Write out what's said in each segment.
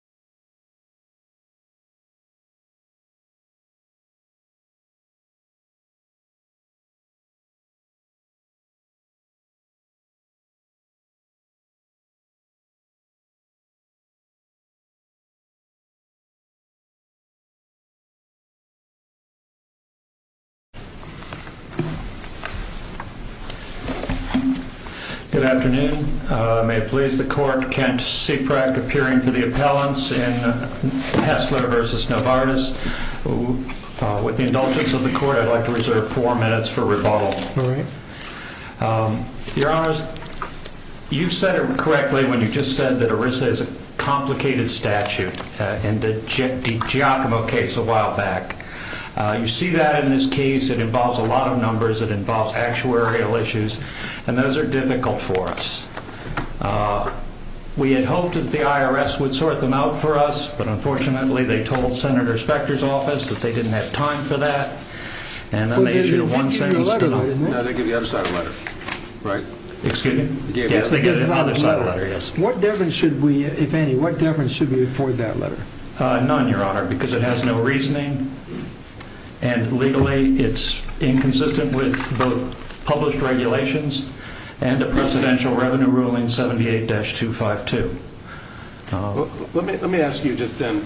Health and Human Services Jul 21, 2011 This is the first of several months in Hessler v. Novartis. With the indulgence of the Court, I'd like to reserve four minutes for rebuttal. Your Honors, you've said it correctly when you just said that ERISA is a complicated statute in the Giacomo case a while back. You see that in this case, it involves a lot of numbers, it involves actuarial issues, and those are difficult for us. We had hoped that the IRS would sort them out for us, but unfortunately they told Senator Specter's office that they didn't have time for that. And then they issued a one-sentence denial. No, they gave the other side a letter, right? Excuse me? Yes, they gave the other side a letter, yes. What deference should we, if any, what deference should we afford that letter? None, Your Honor, because it has no reasoning, and legally it's inconsistent with both published regulations and the Presidential Revenue Ruling 78-252. Let me ask you just then,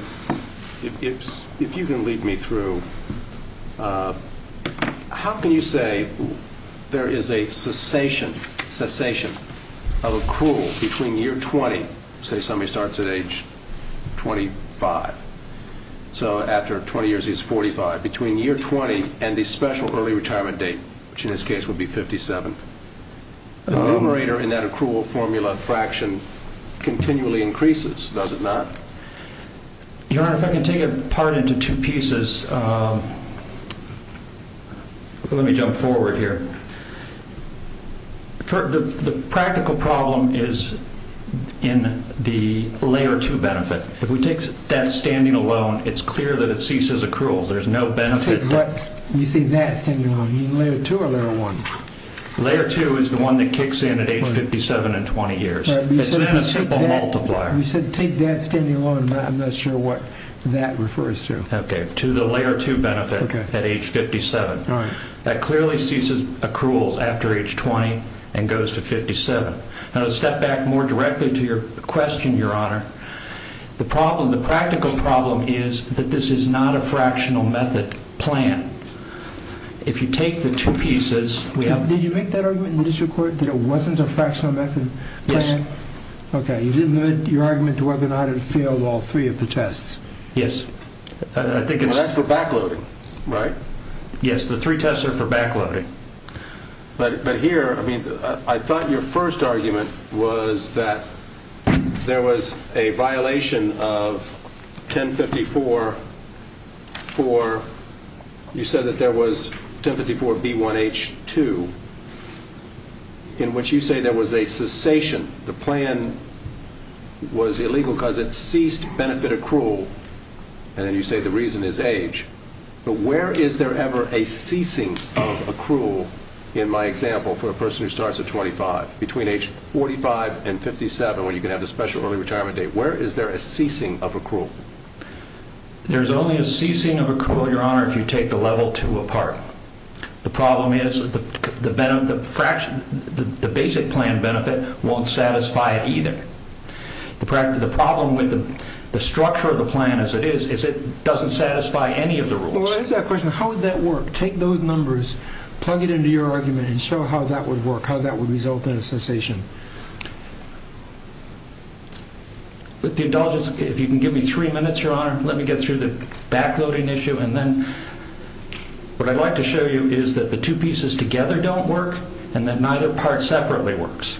if you can lead me through, how can you say there is a cessation of accrual between year 20, say somebody starts at age 25, so after 20 years he's 45, between year 20 and the special early retirement date, which in this case would be 57? The numerator in that accrual formula fraction continually increases, does it not? Your Honor, if I can take it apart into two pieces, let me jump forward here. The practical problem is in the Layer 2 benefit. If we take that standing alone, it's clear that it ceases accruals, there's no benefit. You say that standing alone, you mean Layer 2 or Layer 1? Layer 2 is the one that kicks in at age 57 and 20 years. It's not a simple multiplier. You said take that standing alone, but I'm not sure what that refers to. To the Layer 2 benefit at age 57. That clearly ceases accruals after age 20 and goes to 57. Now to step back more directly to your question, Your Honor, the practical problem is that this is not a fractional method plan. If you take the two pieces... Did you make that argument in the district court that it wasn't a fractional method plan? Yes. Okay, you didn't limit your argument to whether or not it failed all three of the tests? Yes. That's for backloading, right? Yes, the three tests are for backloading. But here, I thought your first argument was that there was a violation of 1054 for... You said that there was 1054B1H2, in which you say there was a cessation. The plan was illegal because it ceased benefit accrual. And then you say the reason is age. But where is there ever a ceasing of accrual, in my example, for a person who starts at 25? Between age 45 and 57, when you can have the special early retirement date, where is there a ceasing of accrual? There's only a ceasing of accrual, Your Honor, if you take the Level 2 apart. The problem is the basic plan benefit won't satisfy it either. The problem with the structure of the plan, as it is, is it doesn't satisfy any of the rules. Well, what is that question? How would that work? Take those numbers, plug it into your argument, and show how that would work, how that would result in a cessation. With the indulgence, if you can give me three minutes, Your Honor, let me get through the backloading issue, and then what I'd like to show you is that the two pieces together don't work, and that neither part separately works.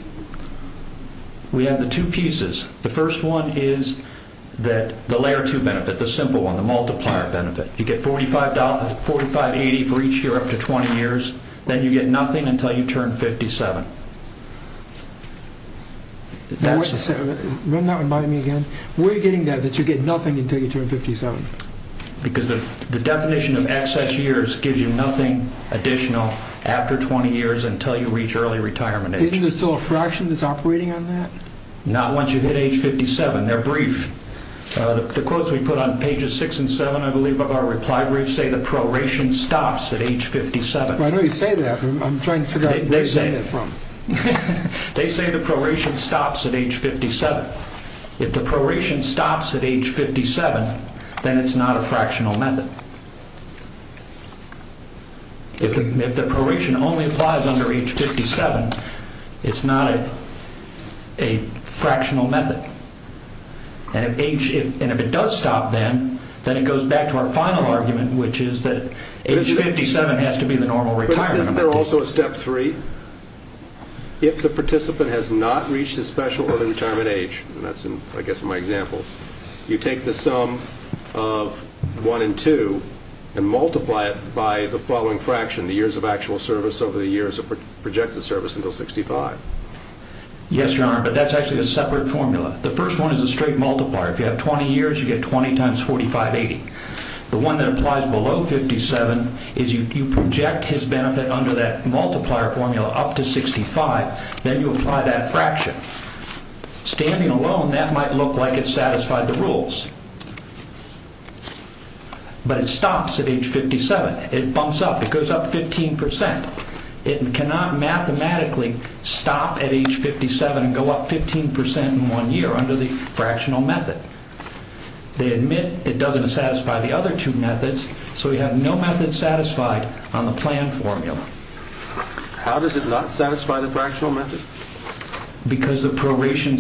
We have the two pieces. The first one is the Layer 2 benefit, the simple one, the multiplier benefit. You get $45.80 for each year up to 20 years, then you get nothing until you turn 57. Will you not remind me again? Where are you getting that, that you get nothing until you turn 57? Because the definition of excess years gives you nothing additional after 20 years until you reach early retirement age. Isn't there still a fraction that's operating on that? Not once you hit age 57. They're brief. The quotes we put on pages 6 and 7, I believe, of our reply brief say the proration stops at age 57. I know you say that, but I'm trying to figure out where you're getting it from. They say the proration stops at age 57. If the proration stops at age 57, then it's not a fractional method. If the proration only applies under age 57, it's not a fractional method. And if it does stop then, then it goes back to our final argument, which is that age 57 has to be the normal retirement amount. Isn't there also a step 3? If the participant has not reached the special early retirement age, and that's, I guess, my example, you take the sum of 1 and 2 and multiply it by the following fraction, the years of actual service over the years of projected service until 65. Yes, Your Honor, but that's actually a separate formula. The first one is a straight multiplier. If you have 20 years, you get 20 times 45, 80. The one that applies below 57 is you project his benefit under that multiplier formula up to 65, then you apply that fraction. Standing alone, that might look like it's satisfied the rules, but it stops at age 57. It bumps up. It goes up 15%. It cannot mathematically stop at age 57 and go up 15% in one year under the fractional method. They admit it doesn't satisfy the other two methods, so we have no method satisfied on the plan formula. How does it not satisfy the fractional method? Because the proration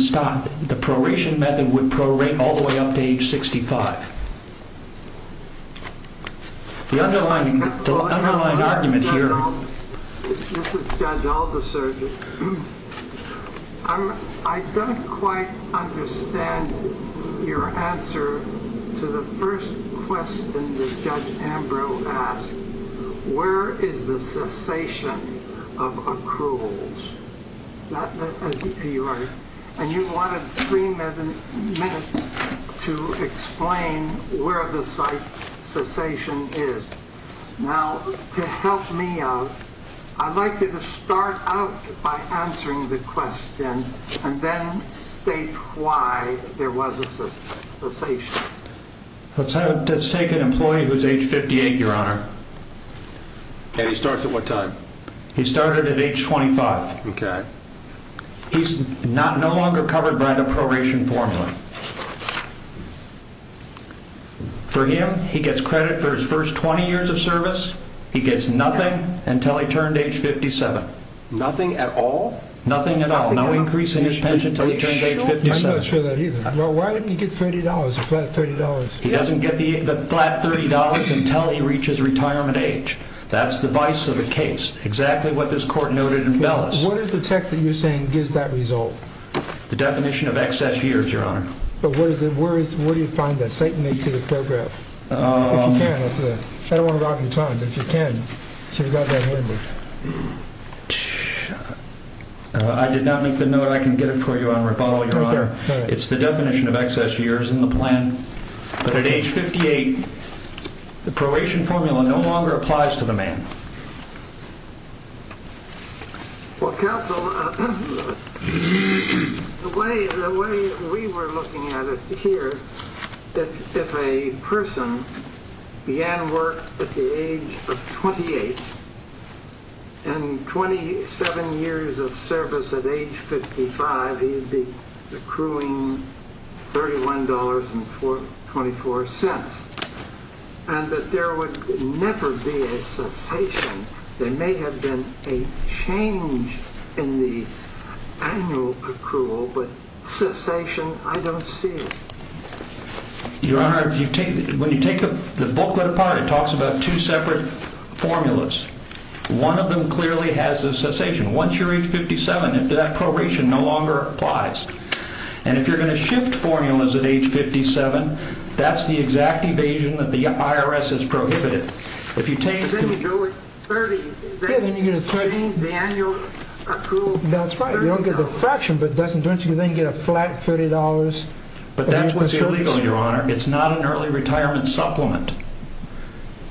method would prorate all the way up to age 65. The underlying argument here... I don't quite understand your answer to the first question that Judge Ambrose asked. Where is the cessation of accruals? And you wanted three minutes to explain where the cessation is. Now, to help me out, I'd like you to start out by answering the question and then state why there was a cessation. Let's take an employee who's age 58, Your Honor. And he starts at what time? He started at age 25. Okay. He's no longer covered by the proration formula. For him, he gets credit for his first 20 years of service. He gets nothing until he turned age 57. Nothing at all? Nothing at all. No increase in his pension until he turns age 57. I'm not sure of that either. Well, why didn't he get $30, a flat $30? He doesn't get the flat $30 until he reaches retirement age. That's the vice of the case. Exactly what this court noted in Bellis. What is the text that you're saying gives that result? The definition of excess years, Your Honor. But where do you find that statement in the paragraph? If you can, I don't want to rob your time, but if you can, you should have got that in there. I did not make the note. I can get it for you on rebuttal, Your Honor. It's the definition of excess years in the plan. But at age 58, the proration formula no longer applies to the man. Well, counsel, the way we were looking at it here, that if a person began work at the age of 28, and 27 years of service at age 55, he'd be accruing $31.24. And that there would never be a cessation. There may have been a change in the annual accrual, but cessation, I don't see it. Your Honor, when you take the booklet apart, it talks about two separate formulas. One of them clearly has a cessation. Once you're age 57, that proration no longer applies. And if you're going to shift formulas at age 57, that's the exact evasion that the IRS has prohibited. If you change the annual accrual. That's right. You don't get the fraction, but don't you then get a flat $30? But that's what's illegal, Your Honor. It's not an early retirement supplement.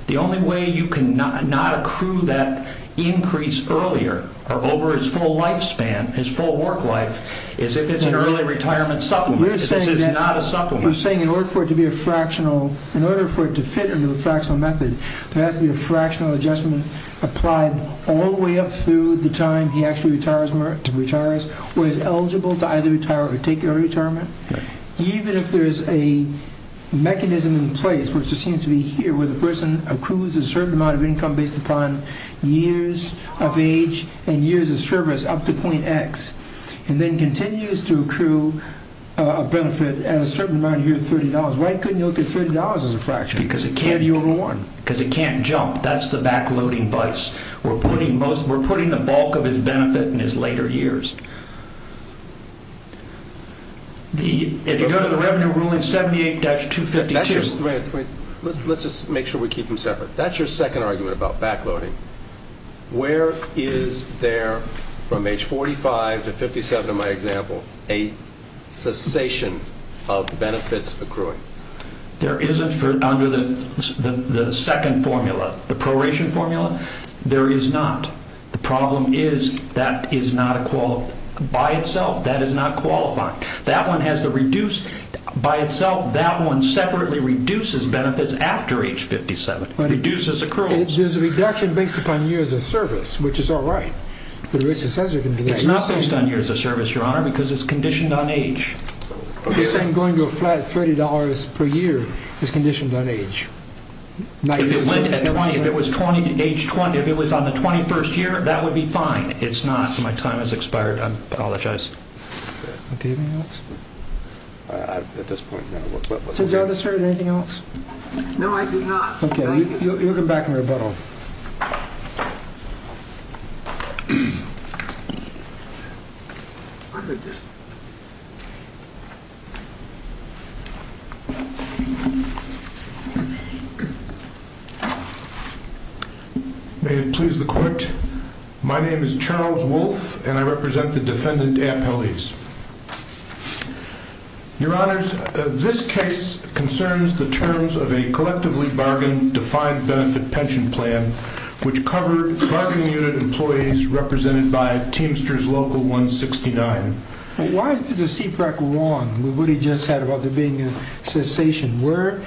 The only way you can not accrue that increase earlier or over his full lifespan, his full work life, is if it's an early retirement supplement. This is not a supplement. What we're saying, in order for it to fit into the fractional method, there has to be a fractional adjustment applied all the way up through the time he actually retires or is eligible to either retire or take early retirement. Even if there is a mechanism in place, which just seems to be here, where the person accrues a certain amount of income based upon years of age and years of service up to point X, and then continues to accrue a benefit at a certain amount here at $30. Why couldn't you look at $30 as a fraction? Because it can't jump. That's the backloading vice. We're putting the bulk of his benefit in his later years. If you go to the Revenue Ruling 78-252. Let's just make sure we keep them separate. That's your second argument about backloading. Where is there, from age 45 to 57 in my example, a cessation of benefits accruing? There isn't under the second formula, the proration formula. There is not. The problem is that is not by itself. That is not qualifying. That one has the reduce by itself. That one separately reduces benefits after age 57. It reduces accruals. There's a reduction based upon years of service, which is all right. It's not based on years of service, Your Honor, because it's conditioned on age. Going to a flat $30 per year is conditioned on age. If it was age 20, if it was on the 21st year, that would be fine. It's not. My time has expired. I apologize. Okay. Anything else? At this point, no. Is there anything else? No, I do not. Okay. You'll come back and rebuttal. May it please the court. My name is Charles Wolfe, and I represent the defendant at Pele's. Your Honor, this case concerns the terms of a collectively bargained defined benefit pension plan, which covered bargaining unit employees represented by Teamsters Local 169. Why is the CPRAC wrong with what he just said about there being a cessation? Where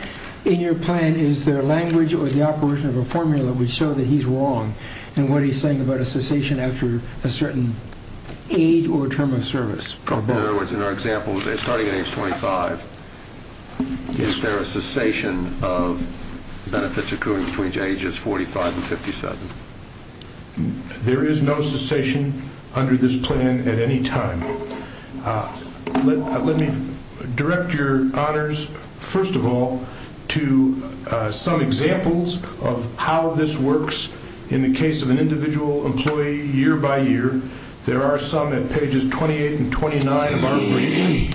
in your plan is there language or the operation of a formula which shows that he's wrong and what he's saying about a cessation after a certain age or term of service? In other words, in our example, starting at age 25, is there a cessation of benefits occurring between ages 45 and 57? There is no cessation under this plan at any time. Let me direct your honors, first of all, to some examples of how this works in the case of an individual employee year by year. There are some at pages 28 and 29 of our brief.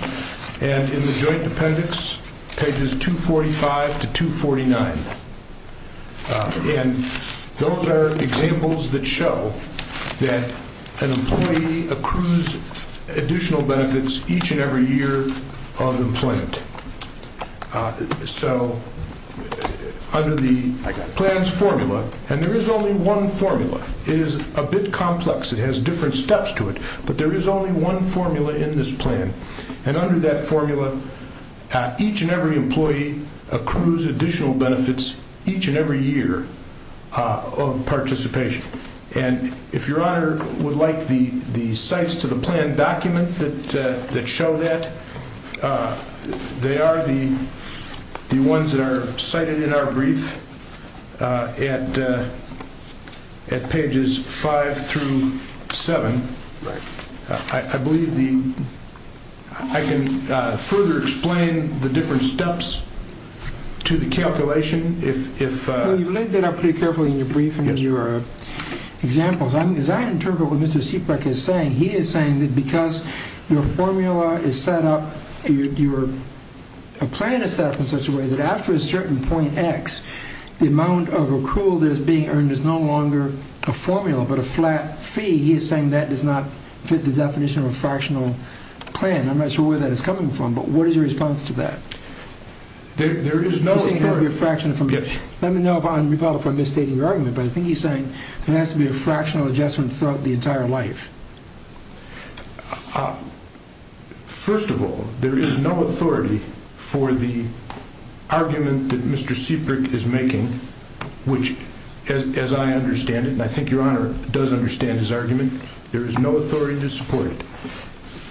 And in the joint appendix, pages 245 to 249. And those are examples that show that an employee accrues additional benefits each and every year of employment. So under the plan's formula, and there is only one formula. It is a bit complex. It has different steps to it. But there is only one formula in this plan. And under that formula, each and every employee accrues additional benefits each and every year of participation. And if your honor would like the sites to the plan document that show that, they are the ones that are cited in our brief at pages 5 through 7. I believe I can further explain the different steps to the calculation. You've laid that out pretty carefully in your brief and in your examples. As I interpret what Mr. Sieprecht is saying, he is saying that because your formula is set up, your plan is set up in such a way that after a certain point X, the amount of accrual that is being earned is no longer a formula but a flat fee. He is saying that does not fit the definition of a fractional plan. I'm not sure where that is coming from, but what is your response to that? Let me know if I'm misstating your argument, but I think he's saying there has to be a fractional adjustment throughout the entire life. First of all, there is no authority for the argument that Mr. Sieprecht is making, which, as I understand it, and I think your Honor does understand his argument, there is no authority to support it.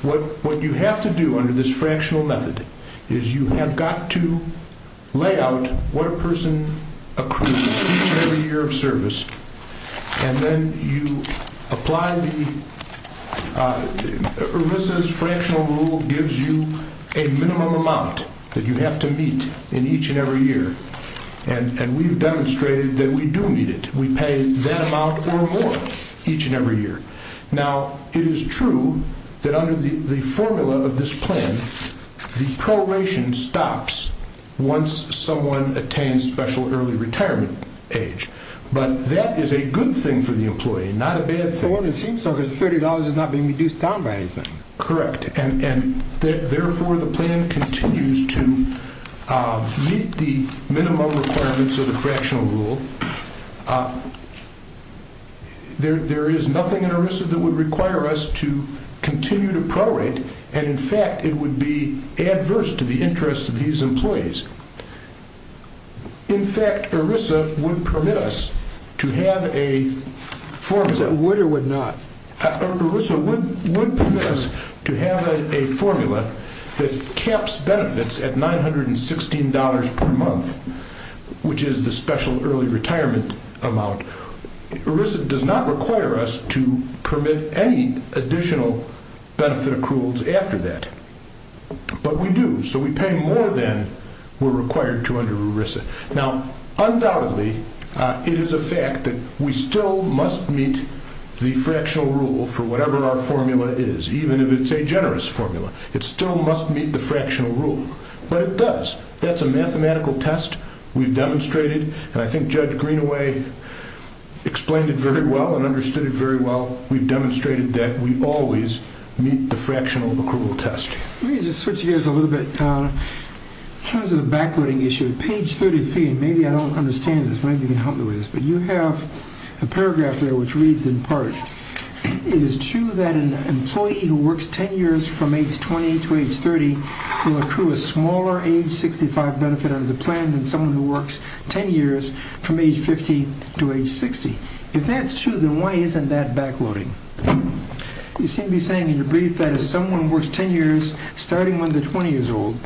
What you have to do under this fractional method is you have got to lay out what a person accrues each and every year of service, and then you apply the, ERISA's fractional rule gives you a minimum amount that you have to meet in each and every year. We've demonstrated that we do need it. We pay that amount or more each and every year. Now, it is true that under the formula of this plan, the probation stops once someone attains special early retirement age, but that is a good thing for the employee, not a bad thing. It seems so because $30 is not being reduced down by anything. Correct, and therefore the plan continues to meet the minimum requirements of the fractional rule. There is nothing in ERISA that would require us to continue to prorate, and, in fact, it would be adverse to the interests of these employees. In fact, ERISA would permit us to have a form that would or would not. ERISA would permit us to have a formula that caps benefits at $916 per month, which is the special early retirement amount. ERISA does not require us to permit any additional benefit accruals after that, but we do, so we pay more than we are required to under ERISA. Now, undoubtedly, it is a fact that we still must meet the fractional rule for whatever our formula is, even if it's a generous formula. It still must meet the fractional rule, but it does. That's a mathematical test we've demonstrated, and I think Judge Greenaway explained it very well and understood it very well. We've demonstrated that we always meet the fractional accrual test. Let me just switch gears a little bit. In terms of the backloading issue, page 33, and maybe I don't understand this, maybe you can help me with this, but you have a paragraph there which reads in part, it is true that an employee who works 10 years from age 20 to age 30 will accrue a smaller age 65 benefit under the plan than someone who works 10 years from age 50 to age 60. If that's true, then why isn't that backloading? You seem to be saying in your brief that if someone works 10 years starting when they're 20 years old,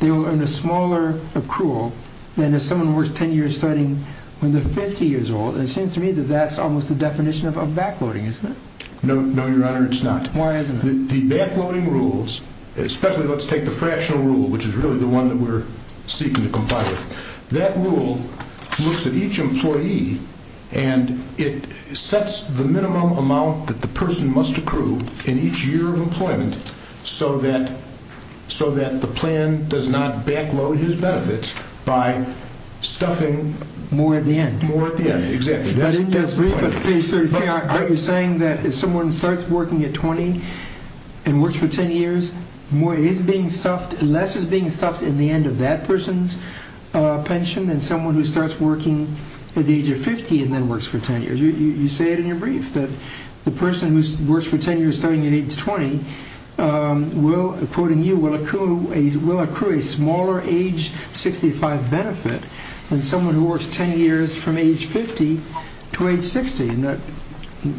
they will earn a smaller accrual than if someone works 10 years starting when they're 50 years old, and it seems to me that that's almost the definition of backloading, isn't it? No, Your Honor, it's not. Why isn't it? The backloading rules, especially let's take the fractional rule, which is really the one that we're seeking to comply with, that rule looks at each employee and it sets the minimum amount that the person must accrue in each year of employment so that the plan does not backload his benefit by stuffing more at the end. More at the end, exactly. But in your brief, aren't you saying that if someone starts working at 20 and works for 10 years, less is being stuffed in the end of that person's pension than someone who starts working at the age of 50 and then works for 10 years? You say it in your brief that the person who works for 10 years starting at age 20, according to you, will accrue a smaller age 65 benefit than someone who works 10 years from age 50 to age 60.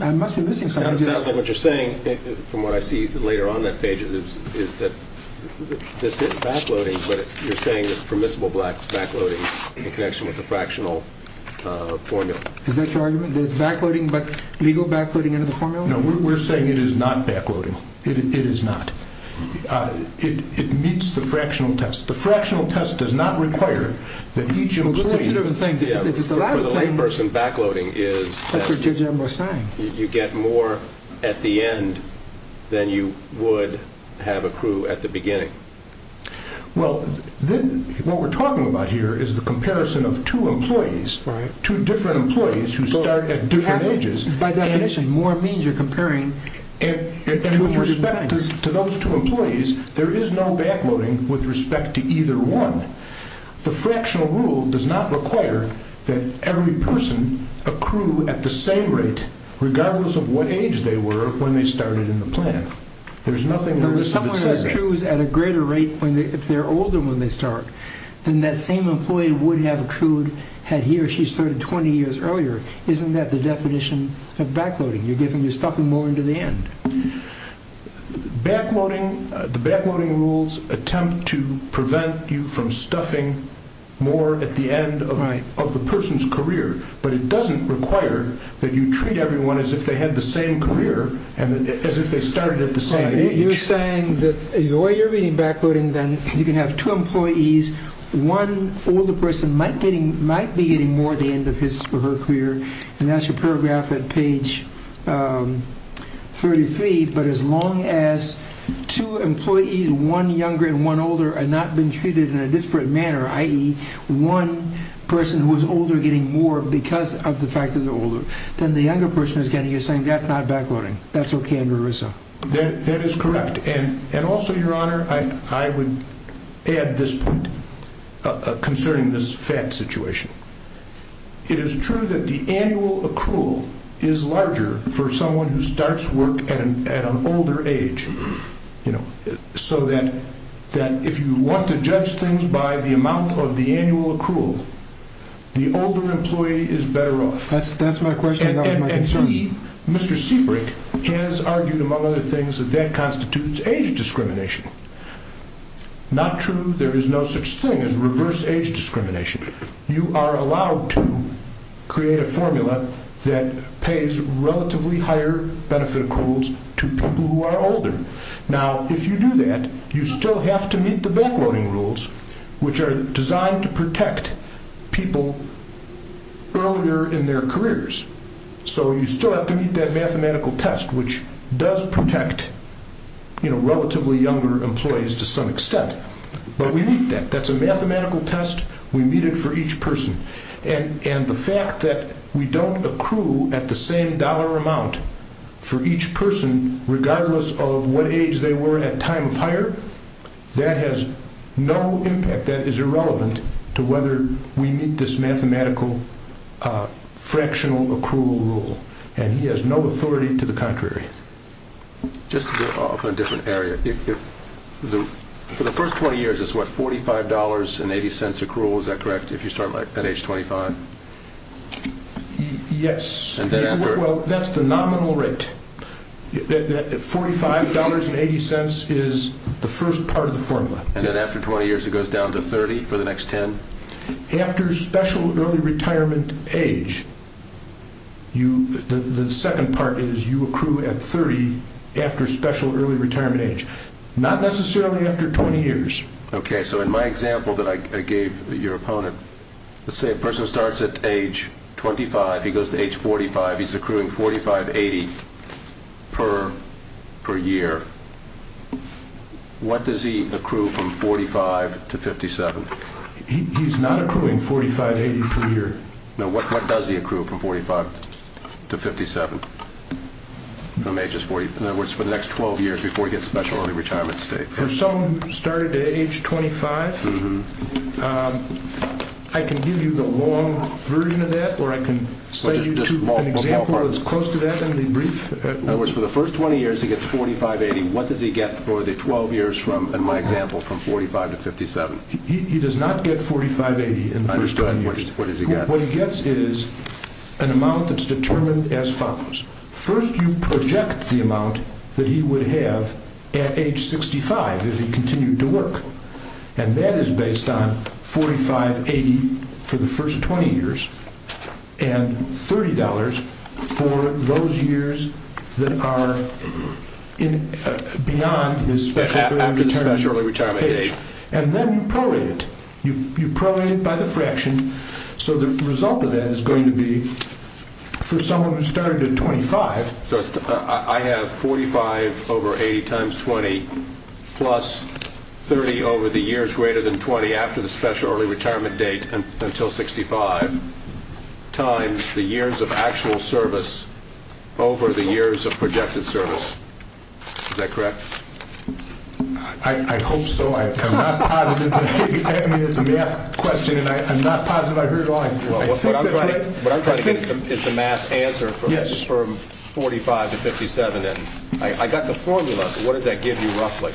I must be missing something. It sounds like what you're saying, from what I see later on in that page, is that this isn't backloading, but you're saying it's permissible backloading in connection with the fractional formula. Is that your argument, that it's legal backloading under the formula? No, we're saying it is not backloading. It is not. It meets the fractional test. The fractional test does not require that each employee… Well, it's two different things. For the layperson, backloading is that you get more at the end than you would have accrued at the beginning. Well, what we're talking about here is the comparison of two employees, two different employees who start at different ages. By definition, more means you're comparing two different kinds. And with respect to those two employees, there is no backloading with respect to either one. The fractional rule does not require that every person accrue at the same rate, regardless of what age they were when they started in the plan. There's nothing there that says that. But if someone accrues at a greater rate if they're older when they start, then that same employee would have accrued had he or she started 20 years earlier. Isn't that the definition of backloading? You're stuffing more into the end. The backloading rules attempt to prevent you from stuffing more at the end of the person's career. But it doesn't require that you treat everyone as if they had the same career, as if they started at the same age. You're saying that the way you're reading backloading, then, is you can have two employees. One older person might be getting more at the end of her career. And that's your paragraph at page 33. But as long as two employees, one younger and one older, are not being treated in a disparate manner, i.e., one person who is older getting more because of the fact that they're older than the younger person is getting, you're saying that's not backloading. That's okay under ERISA. That is correct. And also, Your Honor, I would add this point concerning this fat situation. It is true that the annual accrual is larger for someone who starts work at an older age, so that if you want to judge things by the amount of the annual accrual, the older employee is better off. That's my question. And Mr. Seabrook has argued, among other things, that that constitutes age discrimination. Not true. There is no such thing as reverse age discrimination. You are allowed to create a formula that pays relatively higher benefit accruals to people who are older. Now, if you do that, you still have to meet the backloading rules, which are designed to protect people earlier in their careers. So you still have to meet that mathematical test, which does protect relatively younger employees to some extent. But we meet that. That's a mathematical test. We meet it for each person. And the fact that we don't accrue at the same dollar amount for each person, regardless of what age they were at time of hire, that has no impact. That is irrelevant to whether we meet this mathematical fractional accrual rule. And he has no authority to the contrary. Just to go off on a different area, for the first 20 years, it's what, $45.80 accrual? Is that correct, if you start at age 25? Yes. Well, that's the nominal rate. $45.80 is the first part of the formula. And then after 20 years, it goes down to 30 for the next 10? After special early retirement age, the second part is you accrue at 30 after special early retirement age, not necessarily after 20 years. Okay. So in my example that I gave your opponent, let's say a person starts at age 25. He goes to age 45. He's accruing $45.80 per year. What does he accrue from 45 to 57? He's not accruing $45.80 per year. No. What does he accrue from 45 to 57? In other words, for the next 12 years before he gets special early retirement age? For someone who started at age 25, I can give you the long version of that, or I can set you to an example that's close to that in the brief. In other words, for the first 20 years, he gets $45.80. What does he get for the 12 years, in my example, from 45 to 57? He does not get $45.80 in the first 20 years. What does he get? What he gets is an amount that's determined as follows. First you project the amount that he would have at age 65 if he continued to work, and that is based on $45.80 for the first 20 years and $30 for those years that are beyond his special early retirement age. And then you prolate it. You prolate it by the fraction. So the result of that is going to be for someone who started at 25. So I have 45 over 80 times 20 plus 30 over the years greater than 20 after the special early retirement date until 65 times the years of actual service over the years of projected service. Is that correct? I hope so. I'm not positive. I mean, it's a math question, and I'm not positive I heard it all. What I'm trying to get is the math answer for 45 to 57. I got the formula, but what does that give you roughly?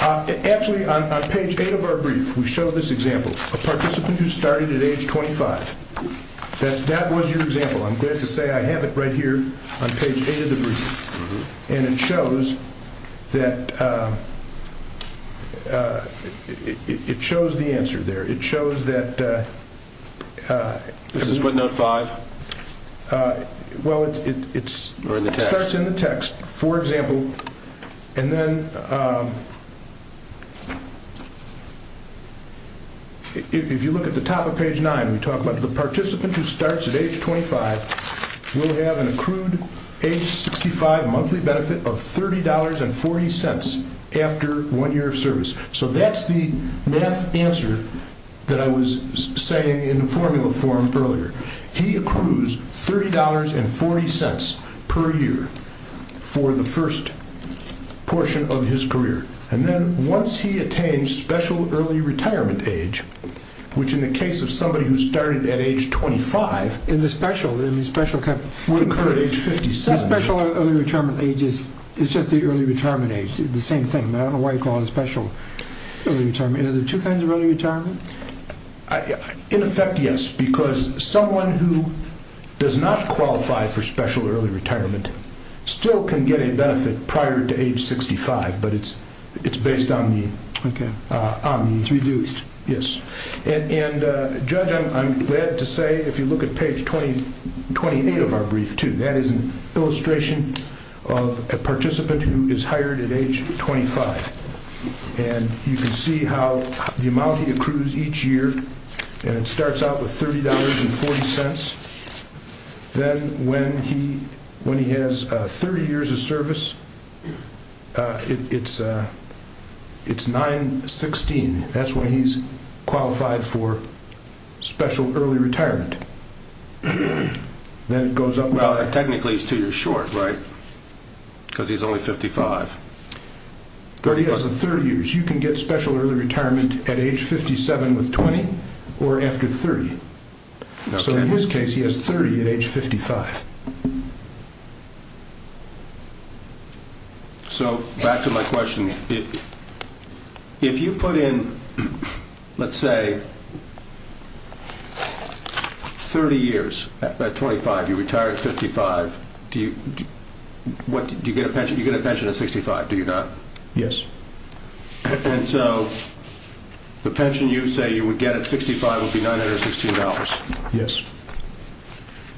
Actually, on page 8 of our brief, we show this example, a participant who started at age 25. That was your example. I'm glad to say I have it right here on page 8 of the brief. And it shows that it shows the answer there. It shows that. This is footnote 5? Well, it starts in the text, for example. And then if you look at the top of page 9, we talk about the participant who starts at age 25 will have an accrued age 65 monthly benefit of $30.40 after one year of service. So that's the math answer that I was saying in formula form earlier. He accrues $30.40 per year for the first portion of his career. And then once he attains special early retirement age, which in the case of somebody who started at age 25. In the special? Concur at age 57. The special early retirement age is just the early retirement age, the same thing. I don't know why you call it special early retirement. Are there two kinds of early retirement? In effect, yes. Because someone who does not qualify for special early retirement still can get a benefit prior to age 65, but it's based on the… It's reduced. Yes. And, Judge, I'm glad to say, if you look at page 28 of our brief, too, that is an illustration of a participant who is hired at age 25. And you can see how the amount he accrues each year starts out with $30.40. Then when he has 30 years of service, it's $9.16. That's when he's qualified for special early retirement. Then it goes up. Well, technically, he's two years short, right? Because he's only 55. But he has 30 years. You can get special early retirement at age 57 with 20 or after 30. So in his case, he has 30 at age 55. So back to my question. If you put in, let's say, 30 years at 25, you retire at 55, do you get a pension at 65? Do you not? Yes. And so the pension you say you would get at 65 would be $916? Yes.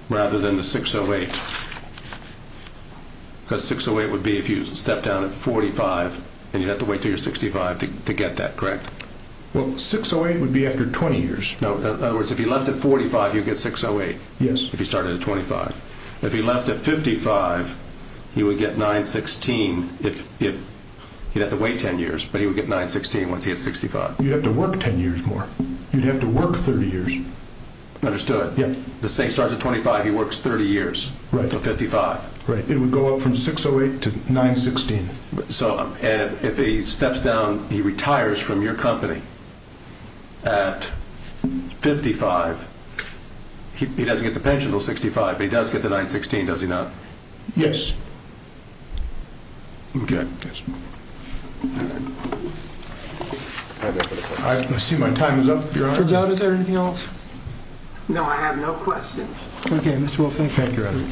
Rather than the 608. Because 608 would be if you stepped down at 45, and you'd have to wait until you're 65 to get that, correct? Well, 608 would be after 20 years. No. In other words, if he left at 45, you'd get 608. Yes. If he started at 25. If he left at 55, he would get $916 if he'd have to wait 10 years, but he would get $916 once he had 65. You'd have to work 10 years more. You'd have to work 30 years. Understood. Yes. The same starts at 25, he works 30 years until 55. Right. It would go up from 608 to 916. So if he steps down, he retires from your company at 55, he doesn't get the pension until 65, but he does get the 916, does he not? Yes. Okay. I see my time is up, Your Honor. It turns out. Is there anything else? No, I have no questions. Okay, Mr. Wolfson. Thank you, Your Honor.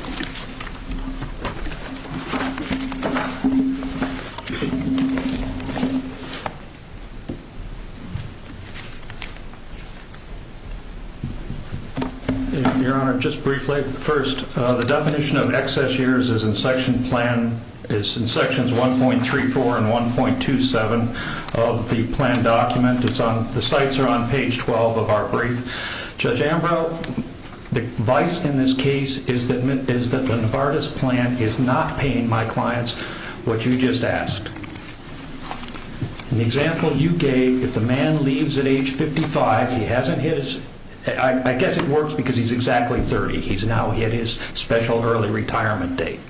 Your Honor, just briefly, first, the definition of excess years is in section plan, is in sections 1.34 and 1.27 of the plan document. The sites are on page 12 of our brief. Judge Ambrose, the advice in this case is that the Novartis plan is not paying my clients what you just asked. In the example you gave, if the man leaves at age 55, he hasn't his, I guess it works because he's exactly 30, he's now at his special early retirement date.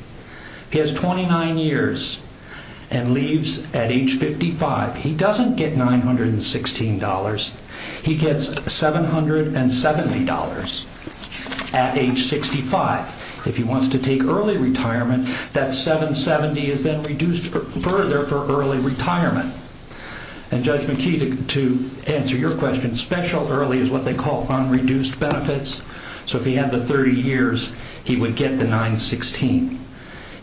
He has 29 years and leaves at age 55. He doesn't get $916. He gets $770 at age 65. If he wants to take early retirement, that 770 is then reduced further for early retirement. And Judge McKee, to answer your question, special early is what they call unreduced benefits. So if he had the 30 years, he would get the 916.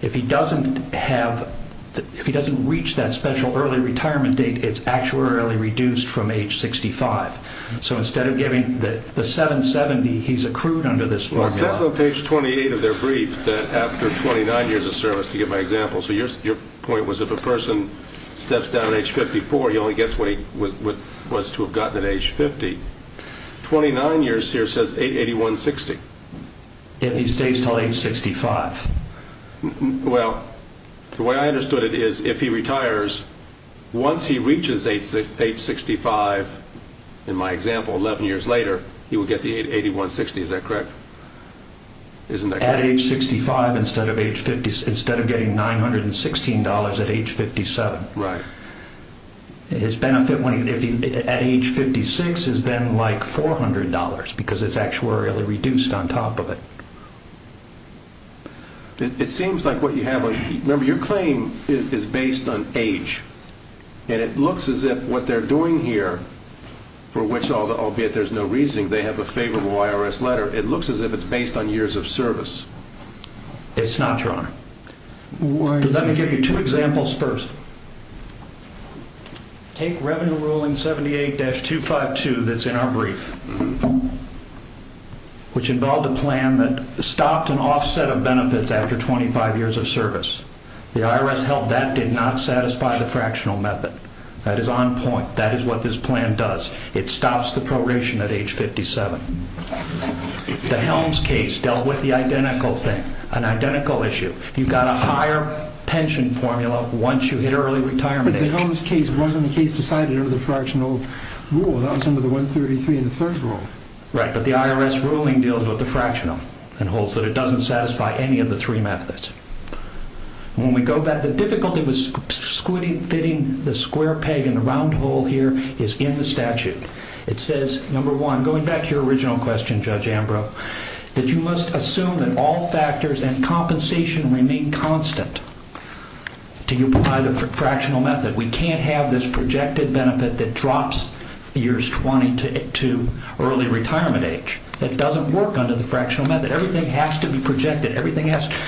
If he doesn't have, if he doesn't reach that special early retirement date, it's actuarially reduced from age 65. So instead of giving the 770, he's accrued under this formula. It says on page 28 of their brief that after 29 years of service, to give my example, so your point was if a person steps down at age 54, he only gets what he was to have gotten at age 50. 29 years here says 881.60. If he stays until age 65. Well, the way I understood it is if he retires, once he reaches age 65, in my example, 11 years later, he will get the 881.60. Is that correct? At age 65 instead of getting $916 at age 57. Right. His benefit at age 56 is then like $400 because it's actuarially reduced on top of it. It seems like what you have, remember, your claim is based on age. And it looks as if what they're doing here, for which, albeit there's no reasoning, they have a favorable IRS letter, it looks as if it's based on years of service. It's not, Your Honor. Let me give you two examples first. Take Revenue Ruling 78-252 that's in our brief, which involved a plan that stopped an offset of benefits after 25 years of service. The IRS held that did not satisfy the fractional method. That is on point. That is what this plan does. It stops the proration at age 57. The Helms case dealt with the identical thing, an identical issue. You've got a higher pension formula once you hit early retirement age. But the Helms case, wasn't the case decided under the fractional rule? That was under the 133 in the third rule. Right. But the IRS ruling deals with the fractional and holds that it doesn't satisfy any of the three methods. When we go back, the difficulty with fitting the square peg in the round hole here is in the statute. It says, number one, going back to your original question, Judge Ambrose, that you must assume that all factors and compensation remain constant. Do you apply the fractional method? We can't have this projected benefit that drops years 20 to early retirement age. That doesn't work under the fractional method. Everything has to be projected. Everything has to be projected.